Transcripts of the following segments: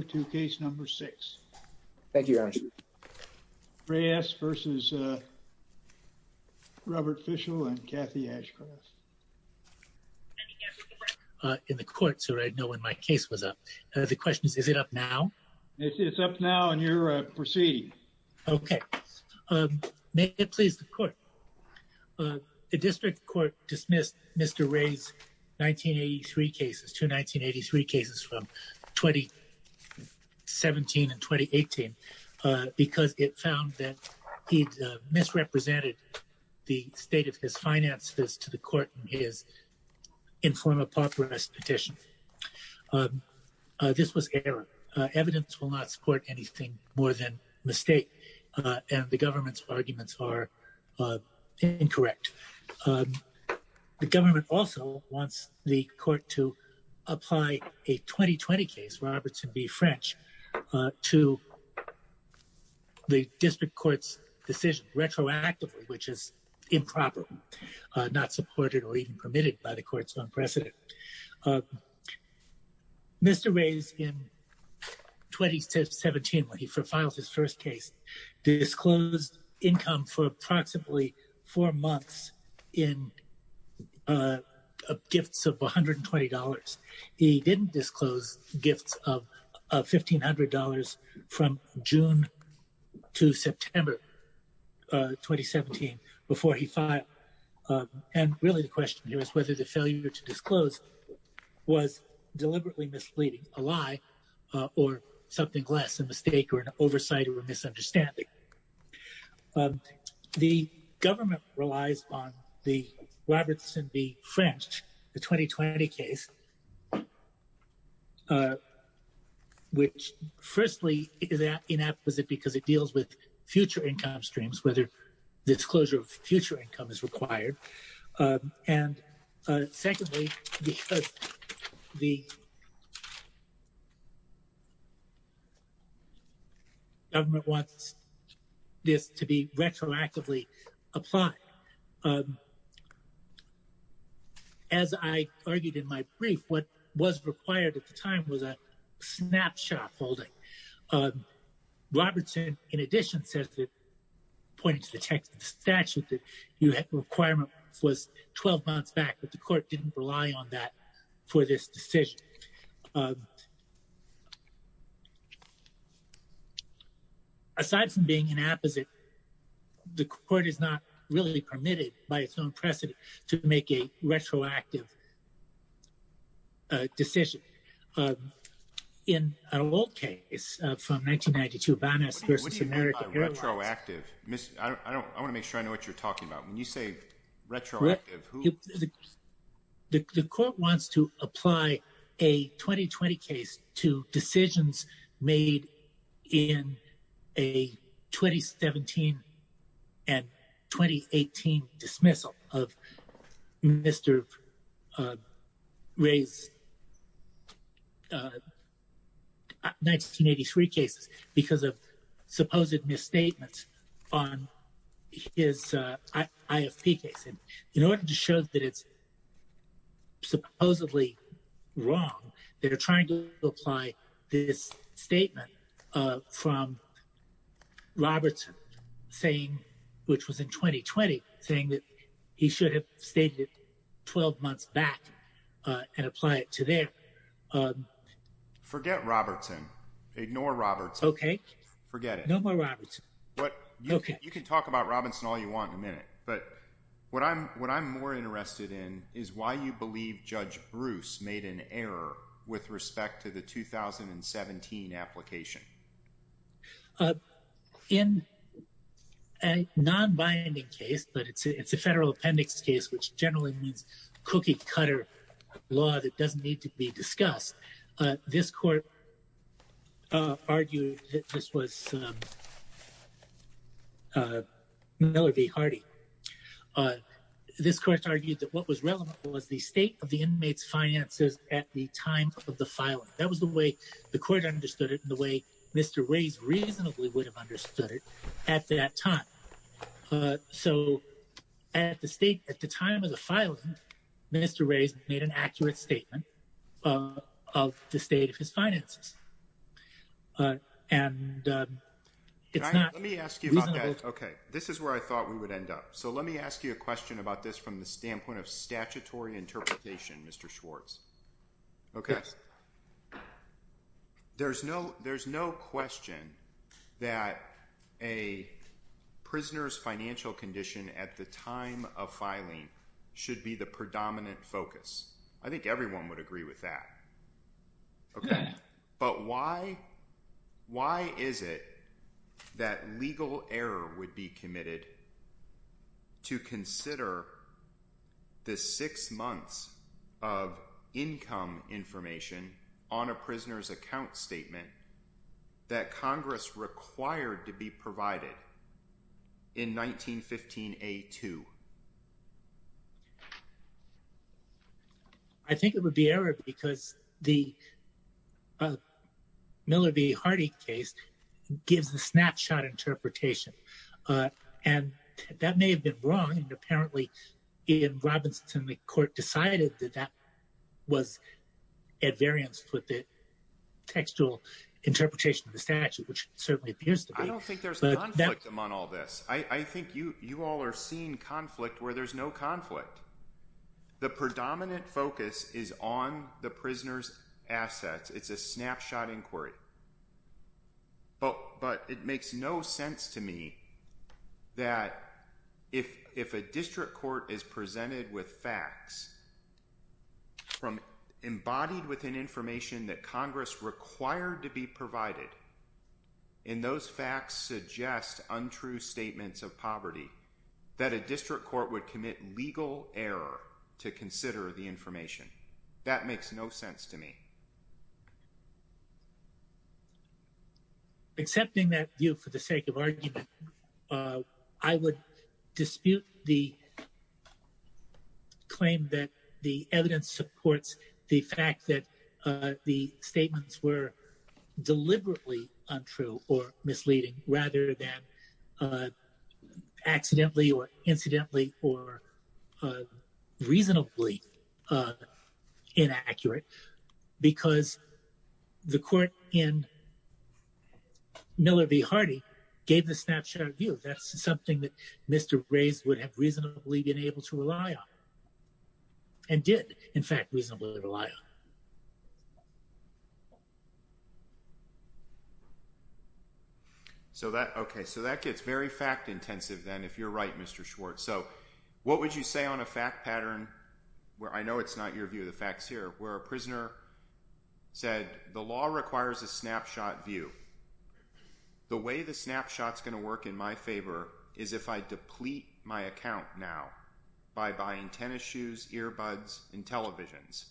and Kathy Ashcroft. Let me get to the record in the court so I know when my case was up. The question is, is it up now? It's up now and you're proceeding. Okay. May it please the court. The district court dismissed Mr. Reyes' 1983 cases. Two 1983 cases from 2010 to 2012. 17 and 2018. Because it found that he misrepresented the state of his finances to the court in his informal pop arrest petition. This was error. Evidence will not support anything more than mistake. And the government's arguments are incorrect. The government also wants the court to apply a 2020 case, Robertson v. French, to the district court's decision retroactively, which is improper. Not supported or even permitted by the court's own precedent. Mr. Reyes in 2017, when he filed his first case, disclosed income for approximately four months in gifts of $120. He didn't disclose gifts of $1,500 from June to September 2017 before he filed. And really the question here is whether the failure to disclose was deliberately misleading, a lie, or something less, a mistake or an oversight or a misunderstanding. The government relies on the Robertson v. French, the 2020 case. Which, firstly, is inapposite because it deals with future income streams, whether disclosure of future income is required. And secondly, because the government wants this to be retroactively applied. As I argued in my brief, what was required at the time was a snapshot holding. Robertson, in addition, pointed to the text of the statute that the requirement was 12 months back, but the court didn't rely on that for this decision. So, aside from being inapposite, the court is not really permitted by its own precedent to make a retroactive decision. In an old case from 1992, Banas v. American Airlines. What do you mean by retroactive? I want to make sure I know what you're talking about. I mean, you say retroactive. In order to show that it's supposedly wrong, they're trying to apply this statement from Robertson saying, which was in 2020, saying that he should have stated it 12 months back and apply it to there. Forget Robertson. Ignore Robertson. Okay. Forget it. No more Robertson. You can talk about Robertson all you want in a minute, but what I'm more interested in is why you believe Judge Bruce made an error with respect to the 2017 application. In a non-binding case, but it's a federal appendix case, which generally means cookie-cutter law that doesn't need to be discussed, this court argued that this was Miller v. Hardy. This court argued that what was relevant was the state of the inmates' finances at the time of the filing. That was the way the court understood it and the way Mr. Reyes reasonably would have understood it at that time. So at the time of the filing, Mr. Reyes made an accurate statement of the state of his finances. Let me ask you about that. Okay. This is where I thought we would end up. So let me ask you a question about this from the standpoint of statutory interpretation, Mr. Schwartz. Okay. There's no question that a prisoner's financial condition at the time of filing should be the predominant focus. I think everyone would agree with that. Okay. But why is it that legal error would be committed to consider the six months of income information on a prisoner's account statement that Congress required to be provided in 1915A2? I think it would be error because the Miller v. Hardy case gives a snapshot interpretation. And that may have been wrong. Apparently, in Robinson, the court decided that that was at variance with the textual interpretation of the statute, which certainly appears to be. I don't think there's conflict among all this. I think you all are seeing conflict where there's no conflict. The predominant focus is on the prisoner's assets. It's a snapshot inquiry. But it makes no sense to me that if a district court is presented with facts from embodied within information that Congress required to be provided, and those facts suggest untrue statements of poverty, that a district court would commit legal error to consider the information. That makes no sense to me. Because the court in Miller v. Hardy gave the snapshot view. That's something that Mr. Rays would have reasonably been able to rely on and did, in fact, reasonably rely on. So that gets very fact intensive, then, if you're right, Mr. Schwartz. So what would you say on a fact pattern, where I know it's not your view, the fact's here, where a prisoner said, the law requires a snapshot view. The way the snapshot's going to work in my favor is if I deplete my account now by buying tennis shoes, earbuds, and televisions.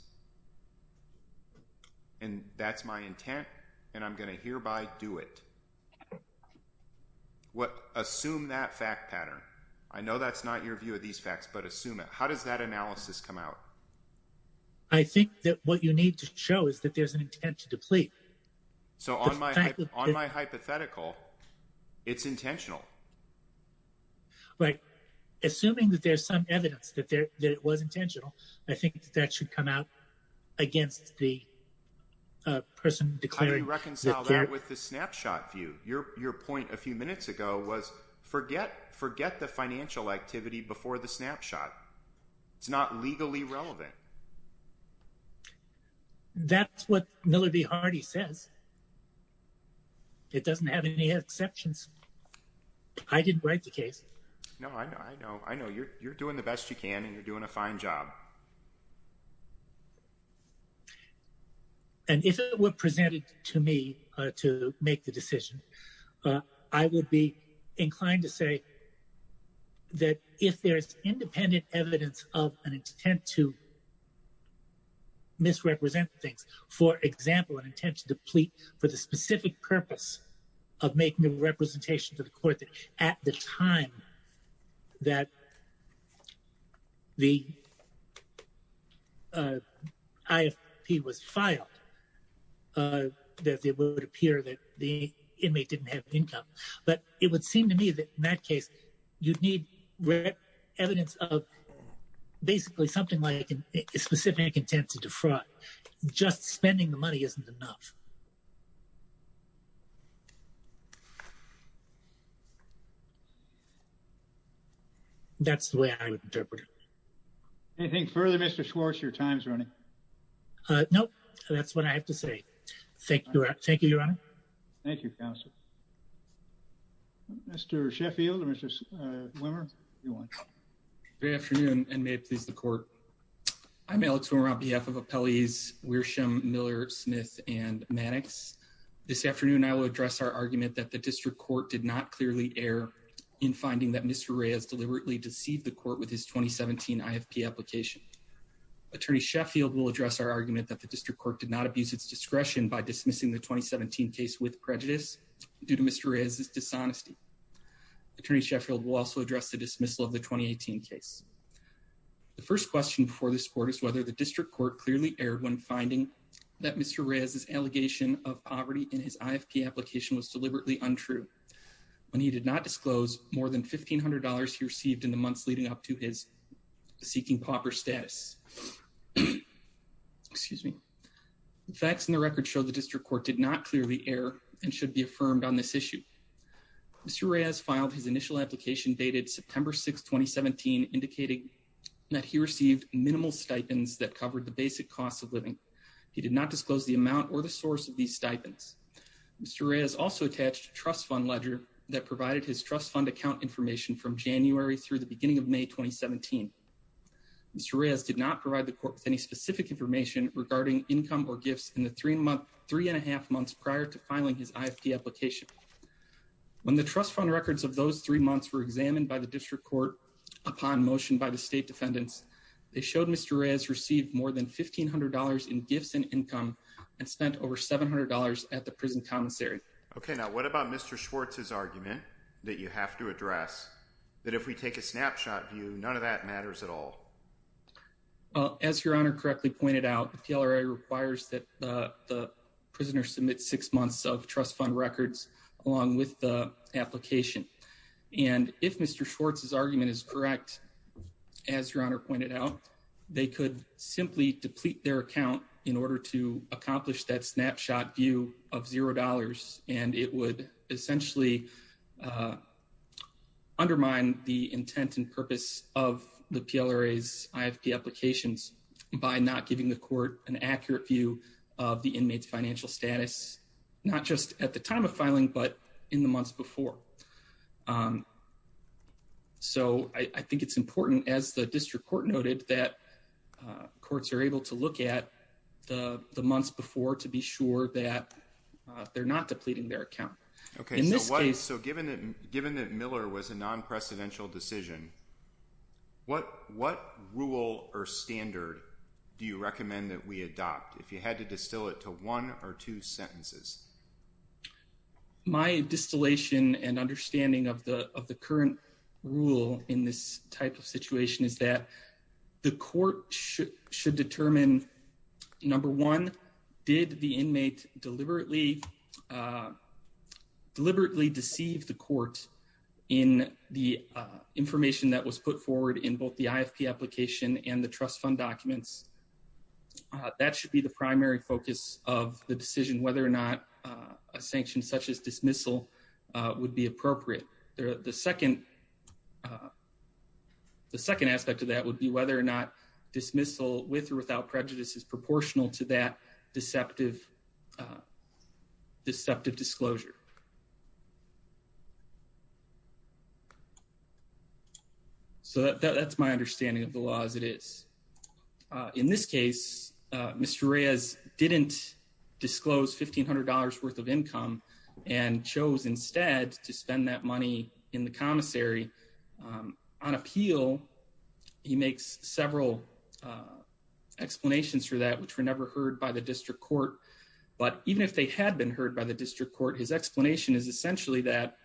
And that's my intent. And I'm going to hereby do it. Assume that fact pattern. I know that's not your view of these facts, but assume it. How does that analysis come out? I think that what you need to show is that there's an intent to deplete. So on my hypothetical, it's intentional. Right. Assuming that there's some evidence that it was intentional, I think that should come out against the person declaring. How do you reconcile that with the snapshot view? Your point a few minutes ago was forget the financial activity before the snapshot. It's not legally relevant. That's what Miller v. Hardy says. It doesn't have any exceptions. I didn't write the case. No, I know. I know. You're doing the best you can, and you're doing a fine job. And if it were presented to me to make the decision, I would be inclined to say that if there's independent evidence of an intent to misrepresent things, for example, an intent to deplete for the specific purpose of making a representation to the court at the time that the IFP was filed, that it would appear that the inmate didn't have income. But it would seem to me that in that case, you'd need evidence of basically something like a specific intent to defraud. Just spending the money isn't enough. That's the way I would interpret it. Anything further, Mr. Schwartz? Your time is running. Nope. That's what I have to say. Thank you. Thank you, Your Honor. Thank you, counsel. Mr. Sheffield, Mr. Wimmer, if you want. Good afternoon, and may it please the court. I'm Alex Wimmer on behalf of appellees Wiersham, Miller, Smith, and Maddox. This afternoon, I will address our argument that the district court did not clearly err in finding that Mr. Ray has deliberately deceived the court with his 2017 IFP application. Attorney Sheffield will address our argument that the district court did not abuse its discretion by dismissing the 2017 case with prejudice due to Mr. Ray's dishonesty. Attorney Sheffield will also address the dismissal of the 2018 case. The first question before this court is whether the district court clearly erred when finding that Mr. Ray's allegation of poverty in his IFP application was deliberately untrue. When he did not disclose more than $1,500 he received in the months leading up to his seeking pauper status. Excuse me. The facts in the record show the district court did not clearly err and should be affirmed on this issue. Mr. Ray has filed his initial application dated September 6, 2017, indicating that he received minimal stipends that covered the basic cost of living. He did not disclose the amount or the source of these stipends. Mr. Ray has also attached a trust fund ledger that provided his trust fund account information from January through the beginning of May, 2017. Mr. Ray has did not provide the court with any specific information regarding income or gifts in the three and a half months prior to filing his IFP application. When the trust fund records of those three months were examined by the district court upon motion by the state defendants, they showed Mr. Ray has received more than $1,500 in gifts and income and spent over $700 at the prison commissary. Okay, now what about Mr. Schwartz's argument that you have to address that if we take a snapshot view, none of that matters at all? As your honor correctly pointed out, the PLRA requires that the prisoner submit six months of trust fund records along with the application. And if Mr. Schwartz's argument is correct, as your honor pointed out, they could simply deplete their account in order to accomplish that snapshot view of $0. And it would essentially undermine the intent and purpose of the PLRA's IFP applications by not giving the court an accurate view of the inmate's financial status, not just at the time of filing, but in the months before. So I think it's important, as the district court noted, that courts are able to look at the months before to be sure that they're not depleting their account. Okay, so given that Miller was a non-precedential decision, what rule or standard do you recommend that we adopt if you had to distill it to one or two sentences? My distillation and understanding of the current rule in this type of situation is that the court should determine, number one, did the inmate deliberately deceive the court in the information that was put forward in both the IFP application and the trust fund documents? That should be the primary focus of the decision, whether or not a sanction such as dismissal would be appropriate. The second aspect of that would be whether or not dismissal with or without prejudice is proportional to that deceptive disclosure. So that's my understanding of the law as it is. In this case, Mr. Reyes didn't disclose $1,500 worth of income and chose instead to spend that money in the commissary. On appeal, he makes several explanations for that, which were never heard by the district court. But even if they had been heard by the district court, his explanation is essentially that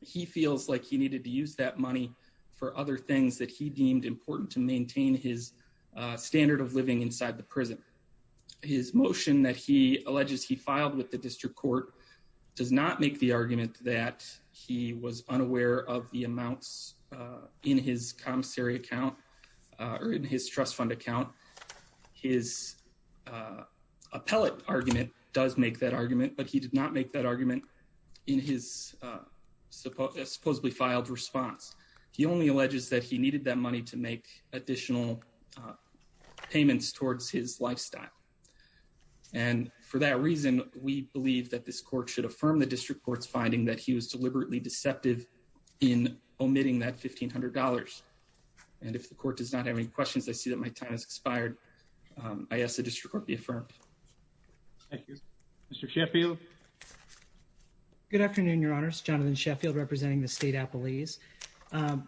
he feels like he needed to use that money for other things that he deemed important to maintain his standard of living inside the prison. His motion that he alleges he filed with the district court does not make the argument that he was unaware of the amounts in his commissary account or in his trust fund account. His appellate argument does make that argument, but he did not make that argument in his supposedly filed response. He only alleges that he needed that money to make additional payments towards his lifestyle. And for that reason, we believe that this court should affirm the district court's finding that he was deliberately deceptive in omitting that $1,500. And if the court does not have any questions, I see that my time has expired. I ask the district court be affirmed. Thank you. Mr. Sheffield. Good afternoon, Your Honors. Jonathan Sheffield representing the State Appellees.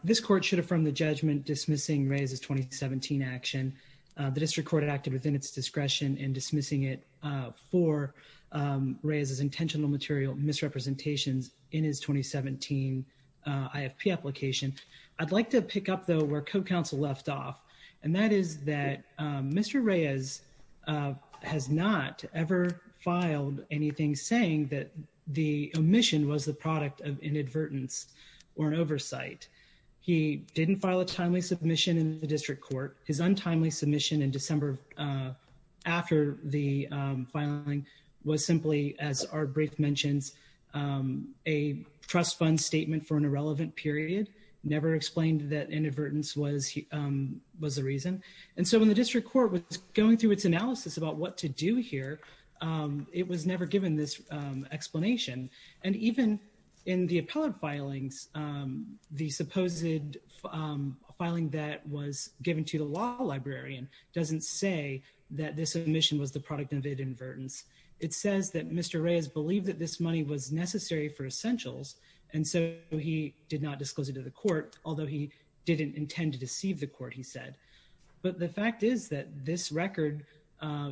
This court should affirm the judgment dismissing Reyes's 2017 action. The district court acted within its discretion in dismissing it for Reyes's intentional material misrepresentations in his 2017 IFP application. I'd like to pick up, though, where co-counsel left off, and that is that Mr. Reyes has not ever filed anything saying that the omission was the product of inadvertence or an oversight. He didn't file a timely submission in the district court. His untimely submission in December after the filing was simply, as our brief mentions, a trust fund statement for an irrelevant period. Never explained that inadvertence was the reason. And so when the district court was going through its analysis about what to do here, it was never given this explanation. And even in the appellate filings, the supposed filing that was given to the law librarian doesn't say that this omission was the product of inadvertence. It says that Mr. Reyes believed that this money was necessary for essentials, and so he did not disclose it to the court, although he didn't intend to deceive the court, he said. But the fact is that this record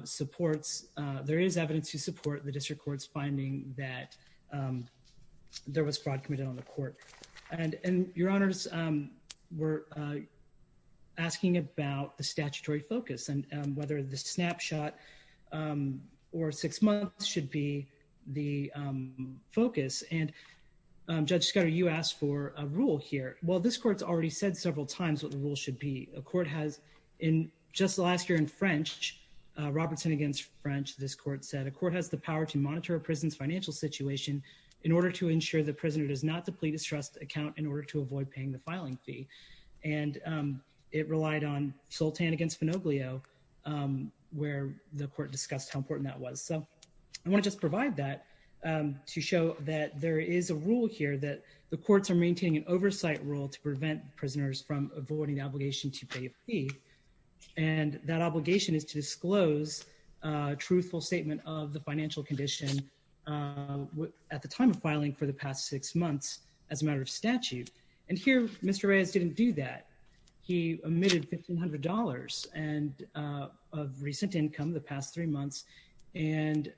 supports, there is evidence to support the district court's finding that there was fraud committed on the court. And your honors were asking about the statutory focus and whether the snapshot or six months should be the focus. And Judge Scudder, you asked for a rule here. Well, this court's already said several times what the rule should be. A court has in just last year in French, Robertson against French, this court said a court has the power to monitor a prison's financial situation in order to ensure the prisoner does not deplete his trust account in order to avoid paying the filing fee. And it relied on Sultan against Monoglio, where the court discussed how important that was. So I want to just provide that to show that there is a rule here that the courts are maintaining an oversight rule to prevent prisoners from avoiding obligation to pay a fee. And that obligation is to disclose a truthful statement of the financial condition at the time of filing for the past six months as a matter of statute. And here, Mr. Reyes didn't do that. He omitted $1,500 of recent income the past three months, much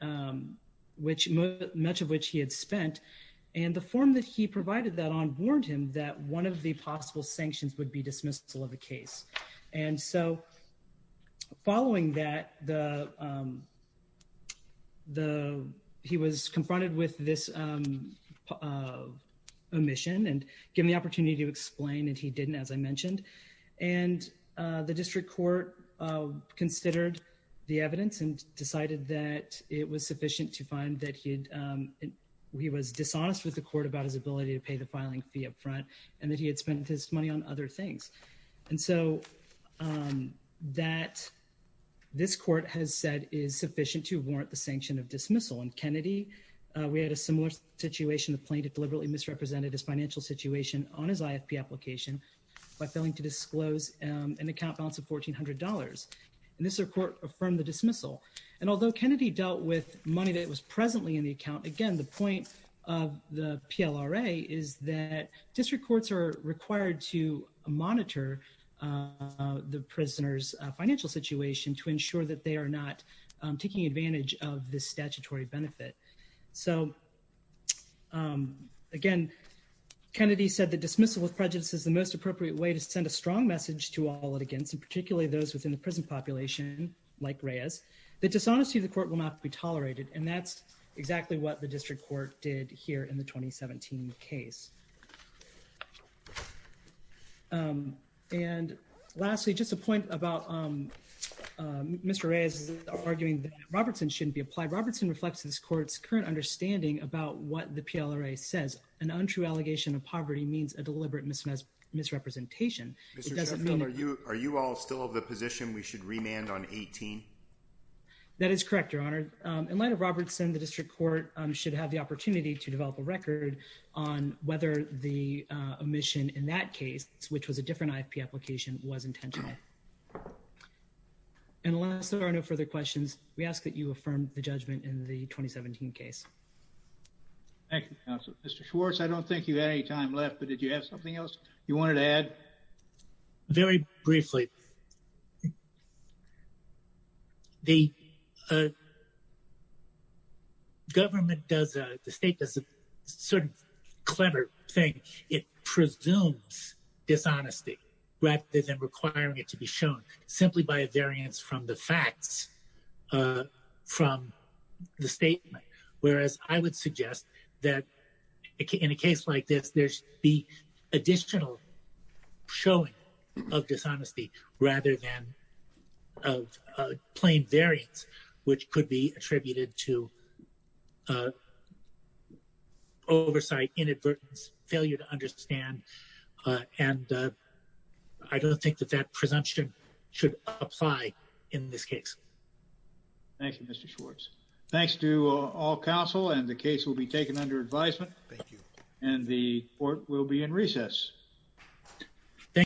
of which he had spent. And the form that he provided that on warned him that one of the possible sanctions would be dismissal of the case. And so following that, he was confronted with this omission and given the opportunity to explain, and he didn't, as I mentioned. And the district court considered the evidence and decided that it was sufficient to find that he was dishonest with the court about his ability to pay the filing fee up front and that he had spent his money on other things. And so that this court has said is sufficient to warrant the sanction of dismissal. In Kennedy, we had a similar situation. The plaintiff deliberately misrepresented his financial situation on his IFP application by failing to disclose an account balance of $1,400. And this court affirmed the dismissal. And although Kennedy dealt with money that was presently in the account, again, the point of the PLRA is that district courts are required to monitor the prisoner's financial situation to ensure that they are not taking advantage of this statutory benefit. So, again, Kennedy said the dismissal of prejudice is the most appropriate way to send a strong message to all litigants, and particularly those within the prison population like Reyes. The dishonesty of the court will not be tolerated. And that's exactly what the district court did here in the 2017 case. And lastly, just a point about Mr. Reyes arguing that Robertson shouldn't be applied. Robertson reflects this court's current understanding about what the PLRA says. An untrue allegation of poverty means a deliberate misrepresentation. Mr. Chaffin, are you all still of the position we should remand on 18? That is correct, Your Honor. In light of Robertson, the district court should have the opportunity to develop a record on whether the omission in that case, which was a different IFP application, was intentional. Unless there are no further questions, we ask that you affirm the judgment in the 2017 case. Thank you, counsel. Mr. Schwartz, I don't think you have any time left, but did you have something else you wanted to add? Very briefly, the state does a sort of clever thing. It presumes dishonesty rather than requiring it to be shown simply by a variance from the facts from the statement. Whereas I would suggest that in a case like this, there should be additional showing of dishonesty rather than plain variance, which could be attributed to oversight, inadvertence, failure to understand. And I don't think that that presumption should apply in this case. Thank you, Mr. Schwartz. Thanks to all counsel, and the case will be taken under advisement. Thank you. And the court will be in recess.